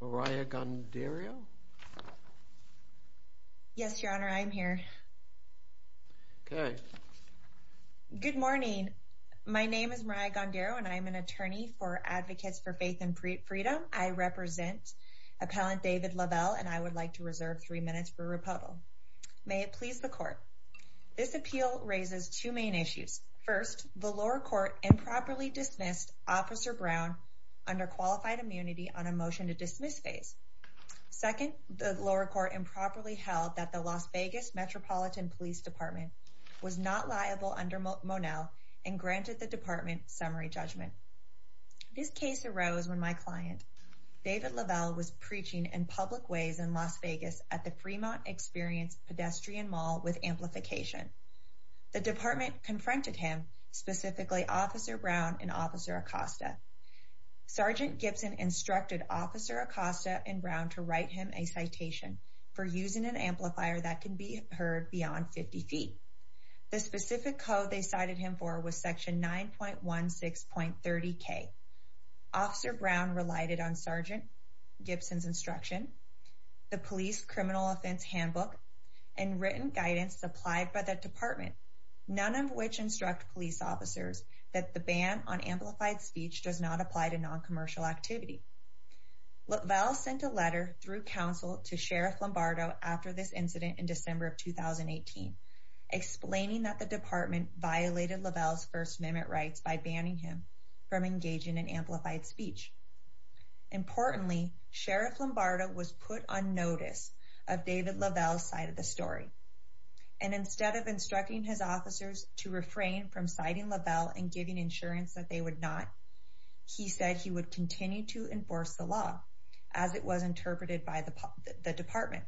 Mariah Gondaro Yes your honor I am here Good morning my name is Mariah Gondaro and I am an attorney for Advocates for Faith and Freedom I represent Appellant David LaVelle and I would like to reserve 3 minutes for rebuttal May it please the court This appeal raises two main issues. First, the lower court improperly dismissed Officer Brown under qualified immunity on a motion to dismiss phase. Second, the lower court improperly held that the Las Vegas Metropolitan Police Department was not liable under Monell and granted the department summary judgment. This case arose when my client David LaVelle was preaching in public ways in Las Vegas at the Fremont Experience Pedestrian Mall with amplification. The department confronted him, specifically Officer Brown and Officer Acosta. Sergeant Gibson instructed Officer Acosta and Brown to write him a citation for using an amplifier that can be heard beyond 50 feet. The specific code they cited him for was section 9.16.30k. Officer Brown relied on Sergeant Gibson's instruction, the police criminal offense handbook, and written guidance supplied by the department. None of which instruct police officers that the ban on amplified speech does not apply to non-commercial activity. LaVelle sent a letter through counsel to Sheriff Lombardo after this incident in December of 2018, explaining that the department violated LaVelle's First Amendment rights by banning him from engaging in amplified speech. Importantly, Sheriff Lombardo was put on notice of David LaVelle's side of the story. Instead of instructing his officers to refrain from citing LaVelle and giving insurance that they would not, he said he would continue to enforce the law as it was interpreted by the department.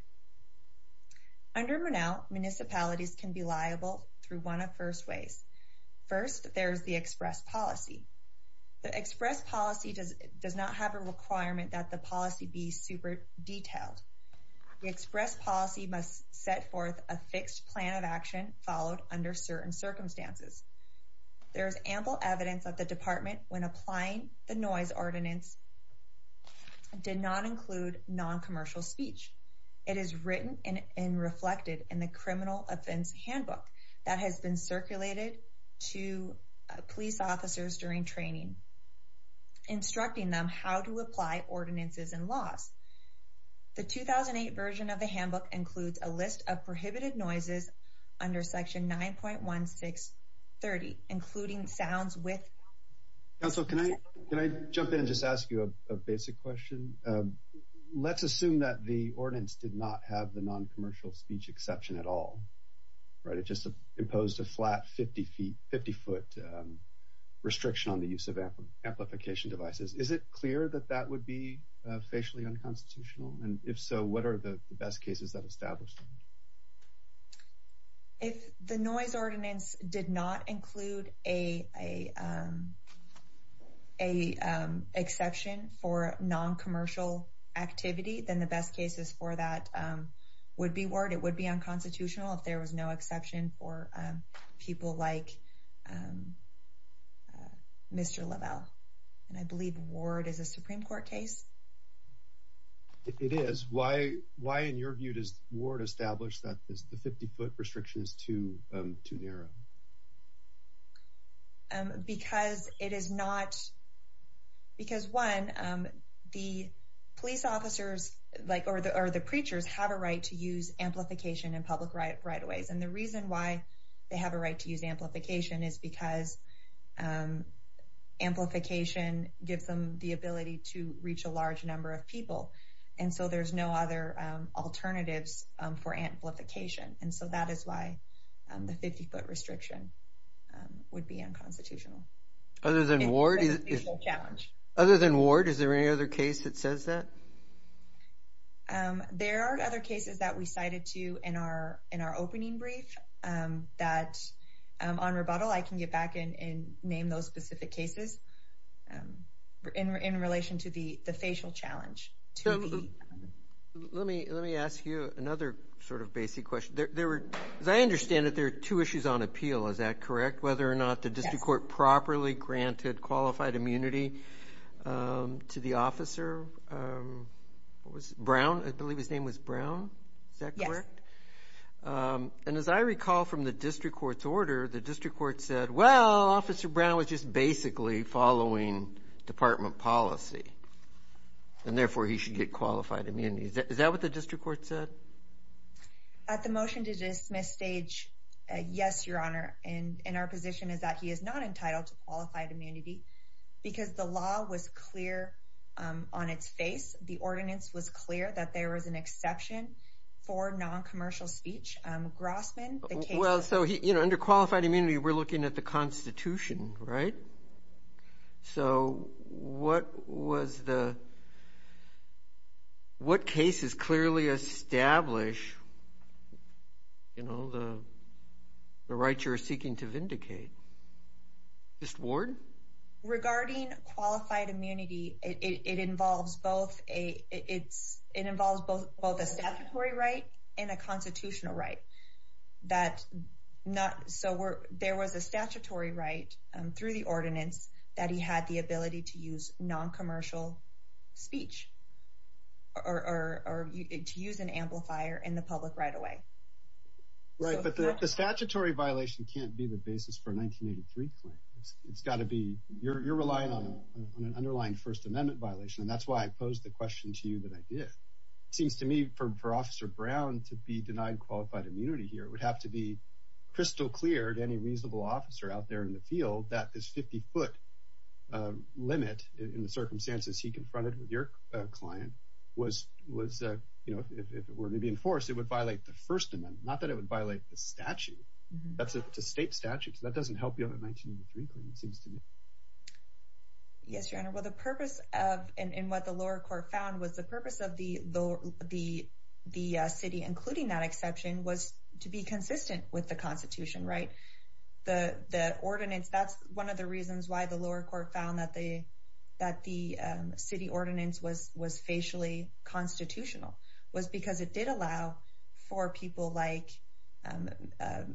Under Monell, municipalities can be liable through one of first ways. First, there is the express policy. The express policy does not have a requirement that the policy be super detailed. The express policy must set forth a fixed plan of action followed under certain circumstances. There is ample evidence that the department, when applying the noise ordinance, did not include non-commercial speech. It is written and reflected in the criminal offense handbook that has been circulated to police officers during training, instructing them how to apply ordinances and laws. The 2008 version of the handbook includes a list of prohibited noises under section 9.1630, including sounds with. So can I can I jump in and just ask you a basic question? Let's assume that the ordinance did not have the non-commercial speech exception at all. Right. It just imposed a flat 50 feet, 50 foot restriction on the use of amplification devices. Is it clear that that would be facially unconstitutional? And if so, what are the best cases that established? If the noise ordinance did not include a. A exception for non-commercial activity than the best cases for that would be word it would be unconstitutional if there was no exception for people like. Mr. Lovell, and I believe Ward is a Supreme Court case. It is why why, in your view, does Ward establish that the 50 foot restrictions too too narrow? Because it is not. Because one, the police officers like or the or the preachers have a right to use amplification and public right right away. And the reason why they have a right to use amplification is because amplification gives them the ability to reach a large number of people. And so there's no other alternatives for amplification. And so that is why the 50 foot restriction would be unconstitutional. Other than Ward. Other than Ward, is there any other case that says that. There are other cases that we cited to you in our in our opening brief that on rebuttal, I can get back in and name those specific cases in relation to the facial challenge to me. Let me let me ask you another sort of basic question. There were I understand that there are two issues on appeal. Is that correct? Whether or not the district court properly granted qualified immunity to the officer was Brown. I believe his name was Brown. Is that correct? And as I recall from the district court's order, the district court said, well, Officer Brown was just basically following department policy. And therefore, he should get qualified immunity. Is that what the district court said? At the motion to dismiss stage. Yes, your honor. And in our position is that he is not entitled to qualified immunity because the law was clear on its face. The ordinance was clear that there was an exception for non-commercial speech. Grossman. Well, so, you know, under qualified immunity, we're looking at the Constitution. Right. So what was the. What cases clearly establish. You know, the right you're seeking to vindicate. This ward regarding qualified immunity, it involves both a it's it involves both both a statutory right and a constitutional right. That's not. So there was a statutory right through the ordinance that he had the ability to use non-commercial speech or to use an amplifier in the public right away. Right. But the statutory violation can't be the basis for 1983. It's got to be. You're relying on an underlying First Amendment violation. And that's why I posed the question to you that I did. It seems to me for for Officer Brown to be denied qualified immunity here would have to be crystal clear to any reasonable officer out there in the field that this 50 foot limit in the circumstances he confronted with your client was was, you know, if it were to be enforced, it would violate the First Amendment. Not that it would violate the statute. That's a state statute. That doesn't help you. It seems to me. Yes, your honor. Well, the purpose of and what the lower court found was the purpose of the the the city, including that exception, was to be consistent with the Constitution, right? That's one of the reasons why the lower court found that the that the city ordinance was was facially constitutional was because it did allow for people like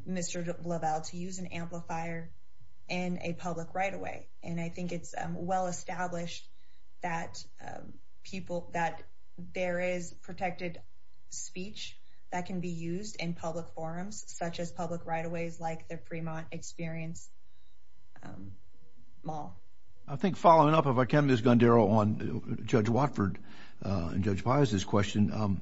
Mr. Amplifier and a public right away. And I think it's well established that people that there is protected speech that can be used in public forums, such as public right of ways like the Fremont Experience Mall. I think following up, if I can, Ms. Gondaro on Judge Watford and Judge Bias's question,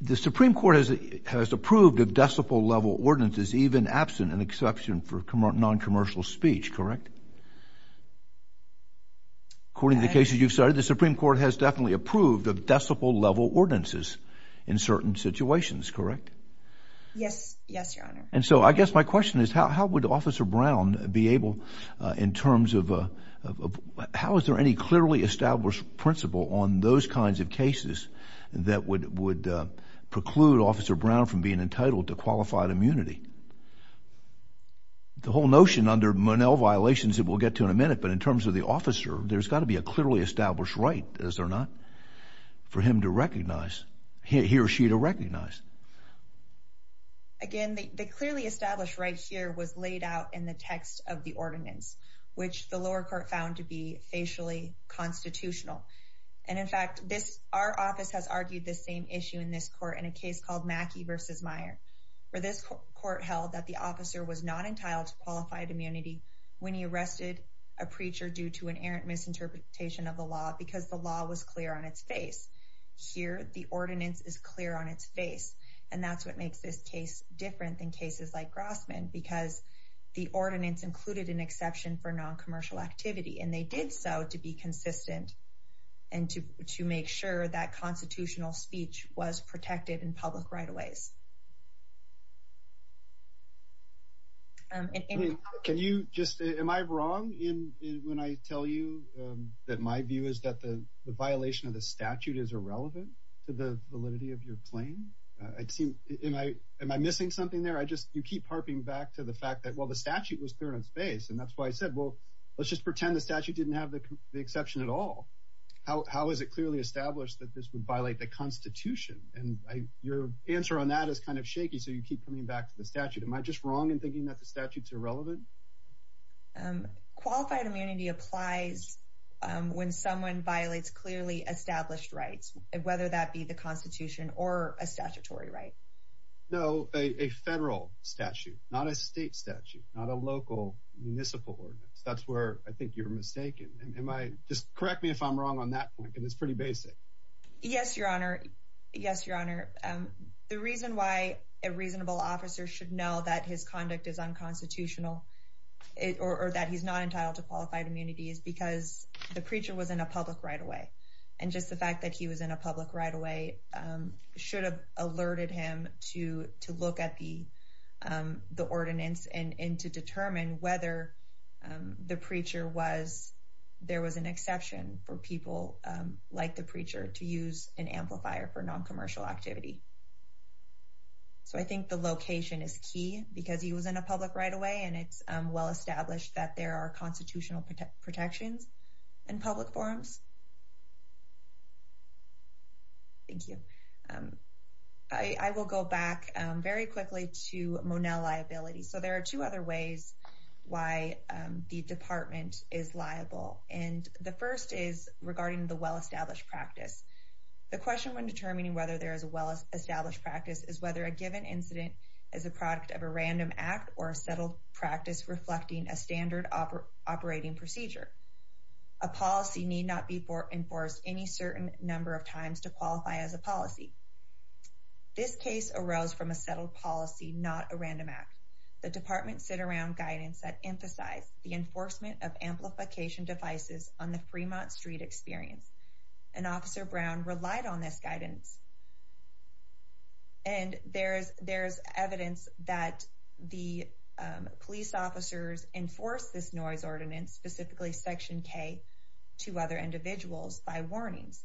the Supreme Court has has approved of decibel level ordinances, even absent an exception for noncommercial speech, correct? According to the cases you've started, the Supreme Court has definitely approved of decibel level ordinances in certain situations, correct? Yes. Yes, your honor. And so I guess my question is, how would Officer Brown be able in terms of how is there any clearly established principle on those kinds of cases that would would preclude Officer Brown from being entitled to qualified immunity? The whole notion under Monell violations that we'll get to in a minute, but in terms of the officer, there's got to be a clearly established right as they're not for him to recognize he or she to recognize. Again, the clearly established right here was laid out in the text of the ordinance, which the lower court found to be facially constitutional. And in fact, this our office has argued the same issue in this court in a case called Mackey versus Meyer, where this court held that the officer was not entitled to qualified immunity when he arrested a preacher due to an errant misinterpretation of the law because the law was clear on its face. Here, the ordinance is clear on its face, and that's what makes this case different than cases like Grossman, because the ordinance included an exception for noncommercial activity, and they did so to be consistent and to to make sure that constitutional speech was protected in public right of ways. And can you just am I wrong in when I tell you that my view is that the violation of the statute is irrelevant to the validity of your claim? I'd seem am I am I missing something there? I just you keep harping back to the fact that, well, the statute was clear in space, and that's why I said, well, let's just pretend the statute didn't have the exception at all. How is it clearly established that this would violate the Constitution? And your answer on that is kind of shaky. So you keep coming back to the statute. Am I just wrong in thinking that the statutes are relevant? Qualified immunity applies when someone violates clearly established rights, whether that be the Constitution or a statutory right. No, a federal statute, not a state statute, not a local municipal ordinance. That's where I think you're mistaken. Am I just correct me if I'm wrong on that point? And it's pretty basic. Yes, Your Honor. Yes, Your Honor. The reason why a reasonable officer should know that his conduct is unconstitutional or that he's not entitled to qualified immunity is because the preacher was in a public right away. And just the fact that he was in a public right away should have alerted him to look at the ordinance and to determine whether there was an exception for people like the preacher to use an amplifier for noncommercial activity. So I think the location is key because he was in a public right away, and it's well established that there are constitutional protections in public forums. Thank you. I will go back very quickly to Monell liability. So there are two other ways why the department is liable. And the first is regarding the well established practice. The question when determining whether there is a well established practice is whether a given incident is a product of a random act or a settled practice reflecting a standard operating procedure. A policy need not be enforced any certain number of times to qualify as a policy. This case arose from a settled policy, not a random act. The department sit around guidance that emphasize the enforcement of amplification devices on the Fremont Street experience. And Officer Brown relied on this guidance. And there's evidence that the police officers enforce this noise ordinance, specifically Section K, to other individuals by warnings.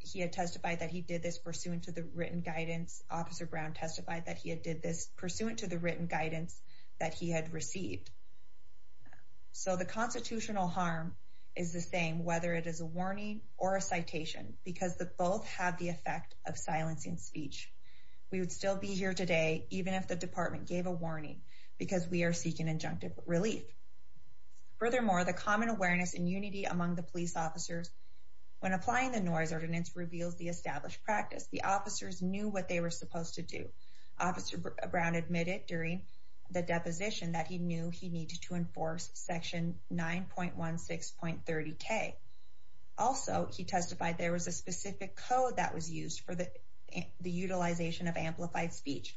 He had testified that he did this pursuant to the written guidance. Officer Brown testified that he had did this pursuant to the written guidance that he had received. So the constitutional harm is the same, whether it is a warning or a citation, because the both have the effect of silencing speech. We would still be here today, even if the department gave a warning because we are seeking injunctive relief. Furthermore, the common awareness and unity among the police officers. When applying the noise ordinance reveals the established practice, the officers knew what they were supposed to do. Officer Brown admitted during the deposition that he knew he needed to enforce Section 9.16.30K. Also, he testified there was a specific code that was used for the utilization of amplified speech.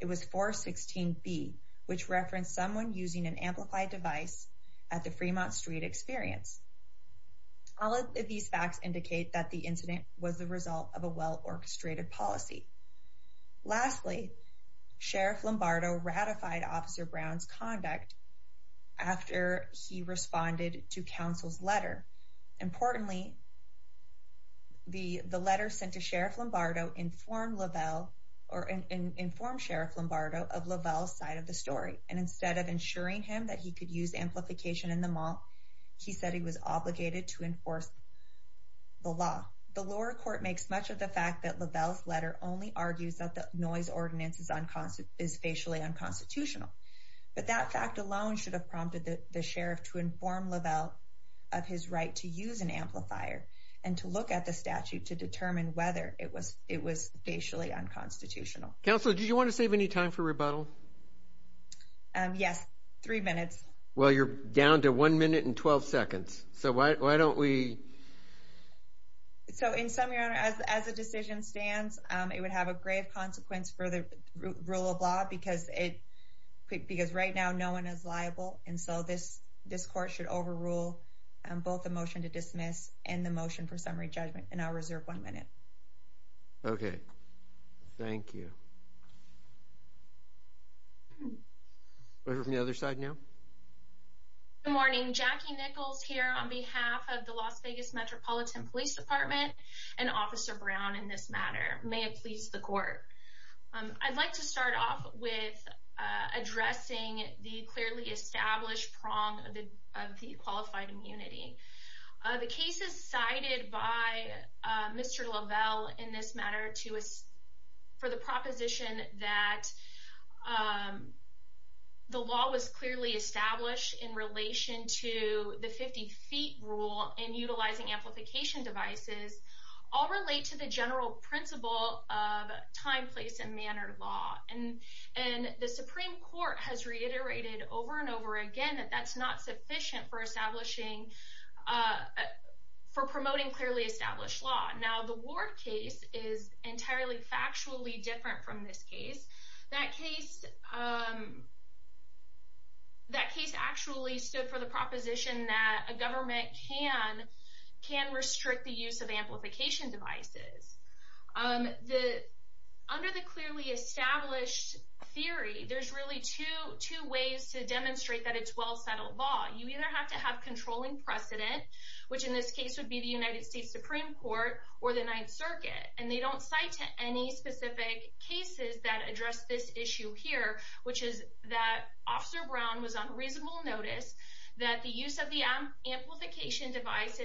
It was 416B, which referenced someone using an amplified device at the Fremont Street experience. All of these facts indicate that the incident was the result of a well-orchestrated policy. Lastly, Sheriff Lombardo ratified Officer Brown's conduct after he responded to counsel's letter. Importantly, the letter sent to Sheriff Lombardo informed Lavelle, or informed Sheriff Lombardo of Lavelle's side of the story. And instead of ensuring him that he could use amplification in the mall, he said he was obligated to enforce the law. The lower court makes much of the fact that Lavelle's letter only argues that the noise ordinance is facially unconstitutional. But that fact alone should have prompted the Sheriff to inform Lavelle of his right to use an amplifier and to look at the statute to determine whether it was facially unconstitutional. Counsel, did you want to save any time for rebuttal? Yes, three minutes. Well, you're down to one minute and 12 seconds, so why don't we... So in summary, Your Honor, as the decision stands, it would have a grave consequence for the rule of law because right now no one is liable. And so this court should overrule both the motion to dismiss and the motion for summary judgment, and I'll reserve one minute. Okay, thank you. Go ahead from the other side now. Good morning, Jackie Nichols here on behalf of the Las Vegas Metropolitan Police Department and Officer Brown in this matter. May it please the court. I'd like to start off with addressing the clearly established prong of the qualified immunity. The cases cited by Mr. Lavelle in this matter for the proposition that the law was clearly established in relation to the 50 feet rule in utilizing amplification devices all relate to the general principle of time, place and manner law. And the Supreme Court has reiterated over and over again that that's not sufficient for promoting clearly established law. Now, the Ward case is entirely factually different from this case. That case actually stood for the proposition that a government can restrict the use of amplification devices. Under the clearly established theory, there's really two ways to demonstrate that it's well-settled law. You either have to have controlling precedent, which in this case would be the United States Supreme Court or the Ninth Circuit, and they don't cite any specific cases that address this issue here, which is that Officer Brown was on reasonable notice that the use of the amplification device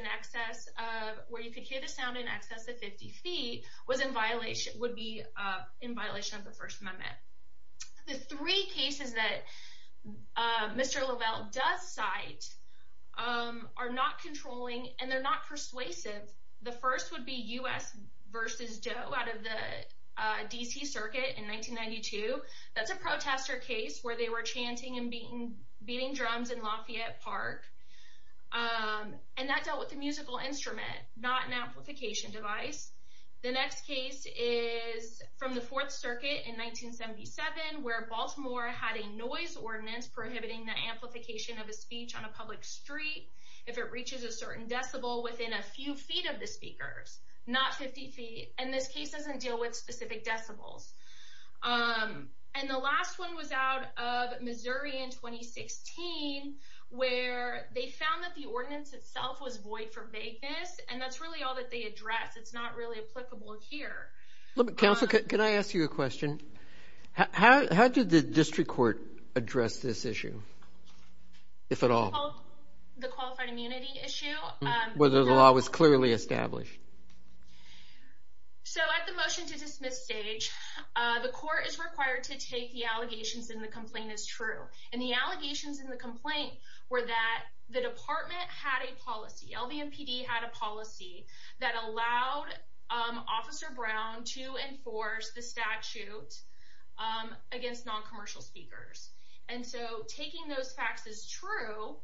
where you could hear the sound in excess of 50 feet would be in violation of the First Amendment. The three cases that Mr. Lavelle does cite are not controlling and they're not persuasive. The first would be U.S. v. Doe out of the D.C. Circuit in 1992. That's a protester case where they were chanting and beating drums in Lafayette Park. And that dealt with a musical instrument, not an amplification device. The next case is from the Fourth Circuit in 1977 where Baltimore had a noise ordinance prohibiting the amplification of a speech on a public street if it reaches a certain decibel within a few feet of the speakers, not 50 feet. And this case doesn't deal with specific decibels. And the last one was out of Missouri in 2016 where they found that the ordinance itself was void for vagueness, and that's really all that they address. It's not really applicable here. Counsel, can I ask you a question? How did the district court address this issue, if at all? The qualified immunity issue? Whether the law was clearly established. So at the motion to dismiss stage, the court is required to take the allegations in the complaint as true. And the allegations in the complaint were that the department had a policy, LVMPD had a policy, that allowed Officer Brown to enforce the statute against non-commercial speakers. And so taking those facts as true,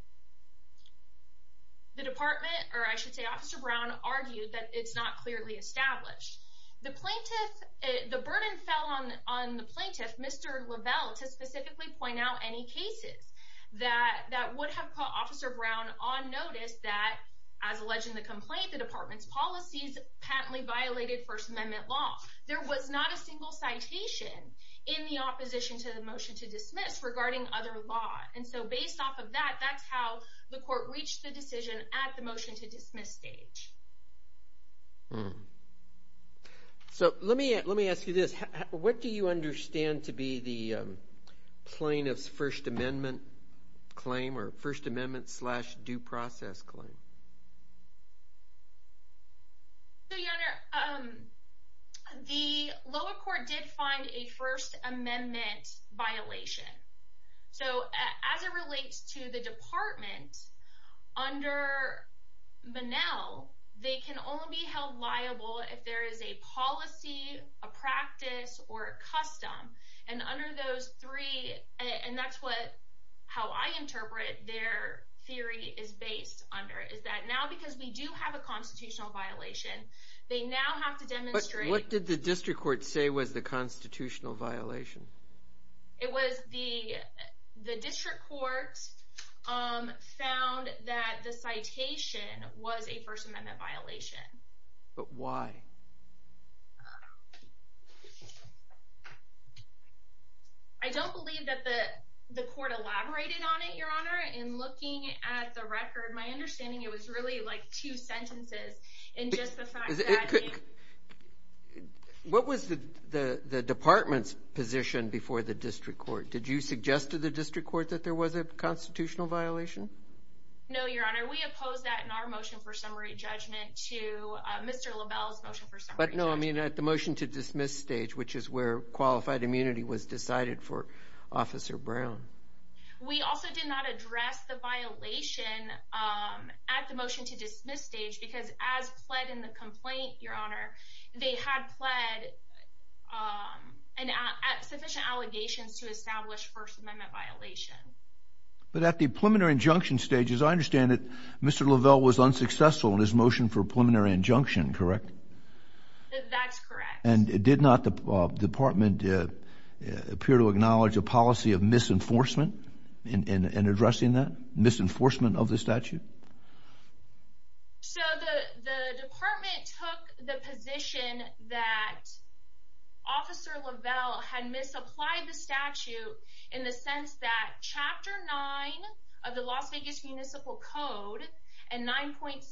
the department, or I should say Officer Brown, argued that it's not clearly established. The plaintiff, the burden fell on the plaintiff, Mr. Lovell, to specifically point out any cases that would have put Officer Brown on notice that, as alleged in the complaint, the department's policies patently violated First Amendment law. There was not a single citation in the opposition to the motion to dismiss regarding other law. And so based off of that, that's how the court reached the decision at the motion to dismiss stage. So let me ask you this. What do you understand to be the plaintiff's First Amendment claim, or First Amendment slash due process claim? So, Your Honor, the lower court did find a First Amendment violation. So as it relates to the department, under Menel, they can only be held liable if there is a policy, a practice, or a custom. And under those three, and that's how I interpret their theory is based under, is that now because we do have a constitutional violation, they now have to demonstrate... But what did the district court say was the constitutional violation? It was the district court found that the citation was a First Amendment violation. But why? I don't believe that the court elaborated on it, Your Honor. In looking at the record, my understanding, it was really like two sentences in just the fact that... What was the department's position before the district court? Did you suggest to the district court that there was a constitutional violation? No, Your Honor. We opposed that in our motion for summary judgment to Mr. LaBelle's motion for summary judgment. But no, I mean at the motion to dismiss stage, which is where qualified immunity was decided for Officer Brown. We also did not address the violation at the motion to dismiss stage because as pled in the complaint, Your Honor, they had pled sufficient allegations to establish First Amendment violation. But at the preliminary injunction stage, as I understand it, Mr. LaBelle was unsuccessful in his motion for preliminary injunction, correct? That's correct. And did not the department appear to acknowledge a policy of misenforcement in addressing that, misenforcement of the statute? So the department took the position that Officer LaBelle had misapplied the statute in the sense that Chapter 9 of the Las Vegas Municipal Code and 9.16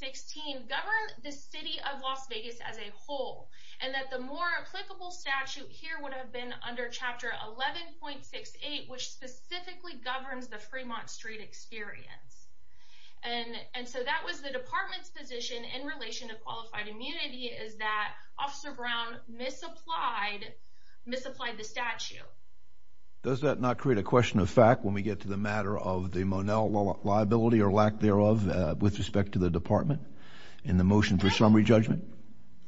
govern the city of Las Vegas as a whole. And that the more applicable statute here would have been under Chapter 11.68, which specifically governs the Fremont Street experience. And so that was the department's position in relation to qualified immunity is that Officer Brown misapplied the statute. Does that not create a question of fact when we get to the matter of the Monell liability or lack thereof with respect to the department in the motion for summary judgment?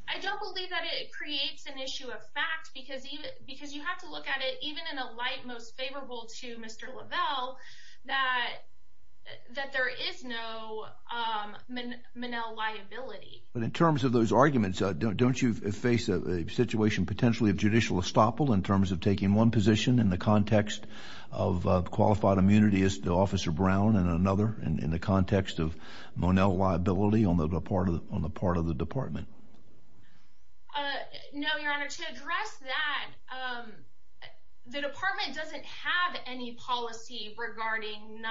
I don't believe that it creates an issue of fact because you have to look at it even in a light most favorable to Mr. LaBelle that there is no Monell liability. But in terms of those arguments, don't you face a situation potentially of judicial estoppel in terms of taking one position in the context of qualified immunity as to Officer Brown and another in the context of Monell liability on the part of the department? No, Your Honor. To address that, the department doesn't have any policy regarding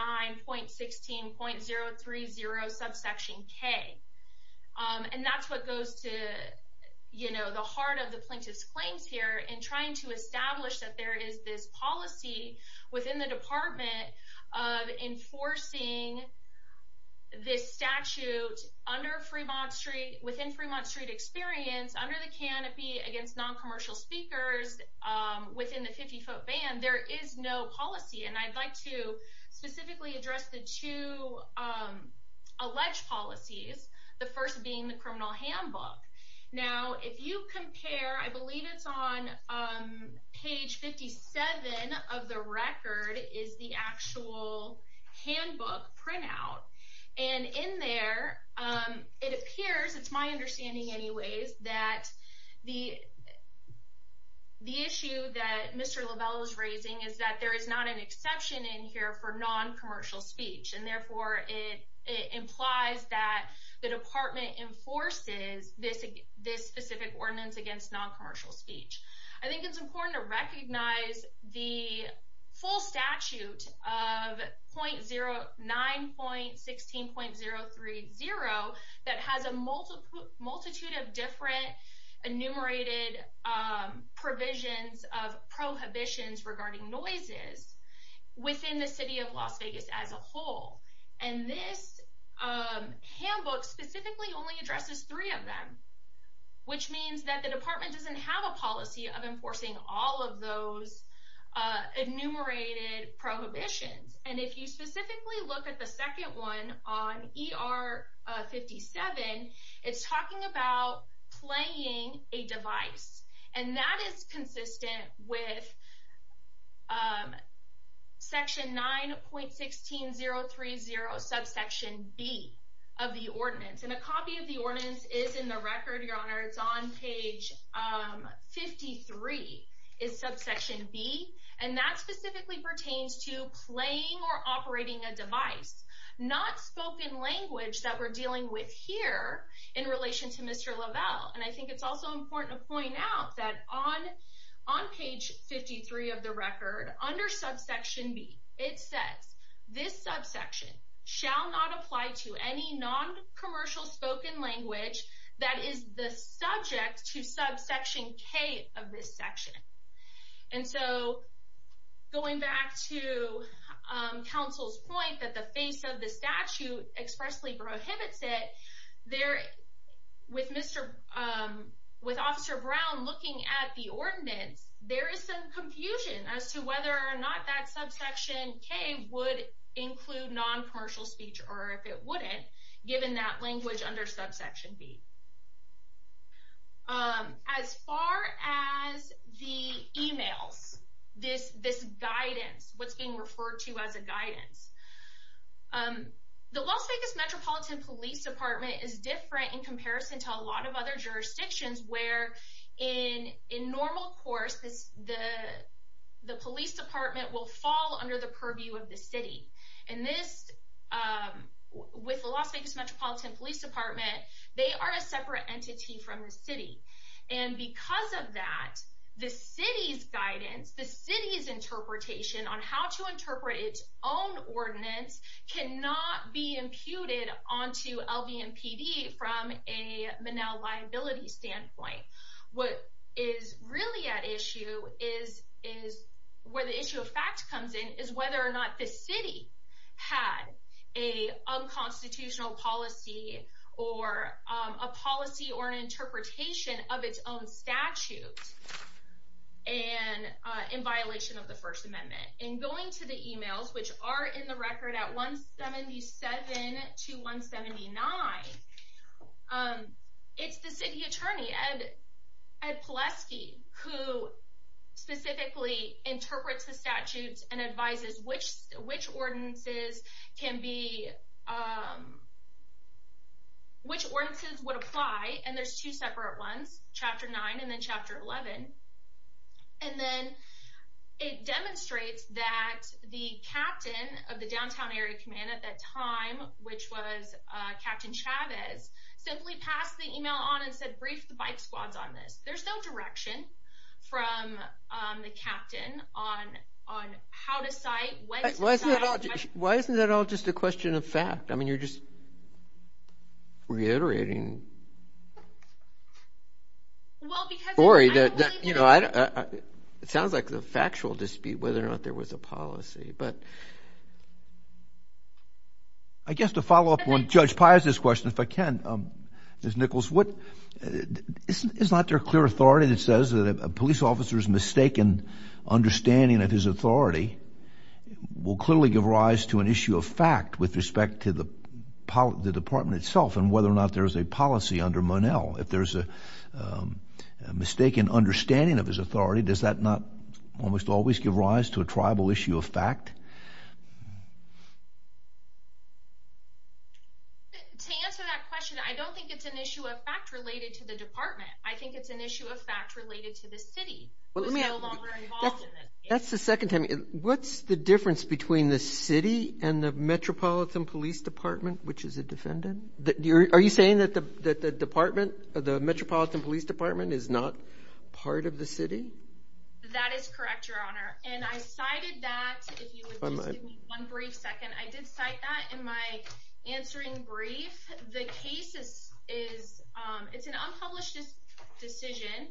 9.16.030 subsection K. And that's what goes to, you know, the heart of the plaintiff's claims here in trying to establish that there is this policy within the department of enforcing this statute under Fremont Street within Fremont Street experience under the canopy against noncommercial speakers within the 50 foot band. There is no policy, and I'd like to specifically address the two alleged policies, the first being the criminal handbook. Now, if you compare, I believe it's on page 57 of the record is the actual handbook printout. And in there it appears it's my understanding anyways that the. The issue that Mr LaBelle is raising is that there is not an exception in here for noncommercial speech, and therefore it implies that the department enforces this this specific ordinance against noncommercial speech. I think it's important to recognize the full statute of.09.16.030 that has a multiple multitude of different enumerated provisions of prohibitions regarding noises within the city of Las Vegas as a whole. And this handbook specifically only addresses three of them, which means that the department doesn't have a policy of enforcing all of those enumerated prohibitions. And if you specifically look at the second one on ER 57, it's talking about playing a device, and that is consistent with. Section 9.16.030 subsection B of the ordinance and a copy of the ordinance is in the record. Your Honor, it's on page 53 is subsection B, and that specifically pertains to playing or operating a device not spoken language that we're dealing with here in relation to Mr LaBelle. And I think it's also important to point out that on on page 53 of the record under subsection B, it says this subsection shall not apply to any noncommercial spoken language that is the subject to subsection K of this section. And so going back to counsel's point that the face of the statute expressly prohibits it there with Mr. with Officer Brown looking at the ordinance, there is some confusion as to whether or not that subsection K would include noncommercial speech or if it wouldn't, given that language under subsection B. As far as the emails, this guidance, what's being referred to as a guidance, the Las Vegas Metropolitan Police Department is different in comparison to a lot of other jurisdictions where in normal course, the police department will fall under the purview of the city. And this with the Las Vegas Metropolitan Police Department, they are a separate entity from the city. And because of that, the city's guidance, the city's interpretation on how to interpret its own ordinance cannot be imputed onto LVM PD from a Manel liability standpoint. What is really at issue is is where the issue of fact comes in is whether or not the city had a unconstitutional policy or a policy or an interpretation of its own statute and in violation of the First Amendment and going to the emails which are in the record at 177 to 179. It's the city attorney and at Pulaski, who specifically interprets the statutes and advises which which ordinances can be. Which ordinances would apply? And there's two separate ones, Chapter nine and then Chapter 11. And then it demonstrates that the captain of the downtown area command at that time, which was Captain Chavez, simply passed the email on and said, brief the bike squads on this. There's no direction from the captain on on how to say why. Why isn't that all just a question of fact? I mean, you're just. Reiterating. Well, because worry that, you know, it sounds like the factual dispute, whether or not there was a policy, but. I guess the follow up on Judge Pius's question, if I can, is Nichols. What is not their clear authority that says that a police officer's mistaken understanding of his authority will clearly give rise to an issue of fact with respect to the the department itself and whether or not there is a policy under Monell. If there's a mistaken understanding of his authority, does that not almost always give rise to a tribal issue of fact? To answer that question, I don't think it's an issue of fact related to the department. I think it's an issue of fact related to the city. That's the second time. What's the difference between the city and the Metropolitan Police Department, which is a defendant? Are you saying that the that the department of the Metropolitan Police Department is not part of the city? That is correct, Your Honor. And I cited that. One brief second. I did cite that in my answering brief. The case is is it's an unpublished decision,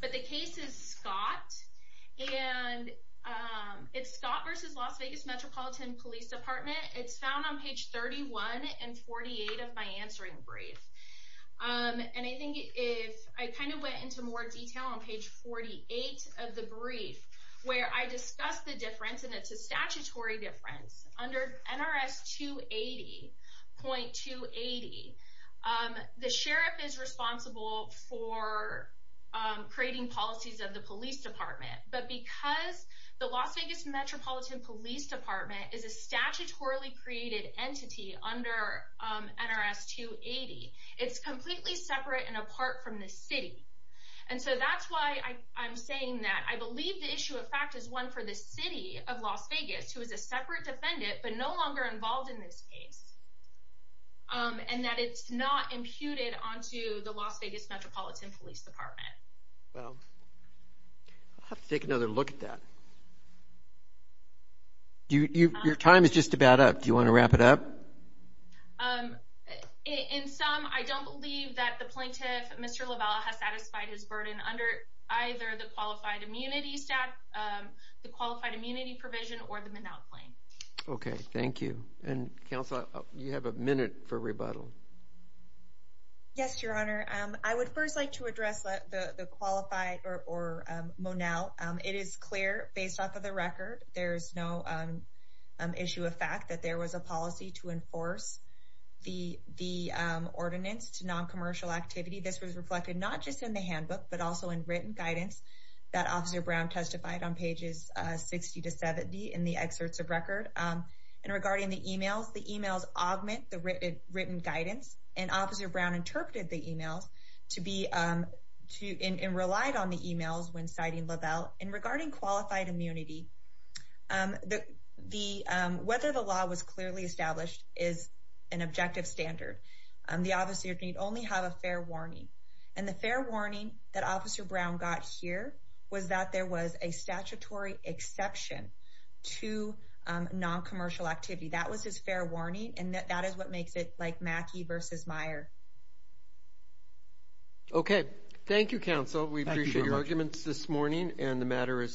but the case is Scott. And it's Scott versus Las Vegas Metropolitan Police Department. It's found on page 31 and 48 of my answering brief. And I think if I kind of went into more detail on page 48 of the brief where I discussed the difference, and it's a statutory difference under NRS 280.280. The sheriff is responsible for creating policies of the police department. But because the Las Vegas Metropolitan Police Department is a statutorily created entity under NRS 280. It's completely separate and apart from the city. And so that's why I'm saying that I believe the issue of fact is one for the city of Las Vegas, who is a separate defendant but no longer involved in this case. And that it's not imputed onto the Las Vegas Metropolitan Police Department. Well, I'll have to take another look at that. Your time is just about up. Do you want to wrap it up? In sum, I don't believe that the plaintiff, Mr. LaValle, has satisfied his burden under either the qualified immunity staff, the qualified immunity provision or the Minal claim. Okay, thank you. And counsel, you have a minute for rebuttal. Yes, Your Honor. I would first like to address the qualified or Minal. It is clear based off of the record, there is no issue of fact that there was a policy to enforce the ordinance to non-commercial activity. This was reflected not just in the handbook but also in written guidance that Officer Brown testified on pages 60 to 70 in the excerpts of record. And regarding the emails, the emails augment the written guidance and Officer Brown interpreted the emails and relied on the emails when citing LaValle. And regarding qualified immunity, whether the law was clearly established is an objective standard. The officer can only have a fair warning. And the fair warning that Officer Brown got here was that there was a statutory exception to non-commercial activity. That was his fair warning and that is what makes it like Mackey versus Meyer. Okay, thank you counsel. We appreciate your arguments this morning and the matter is submitted.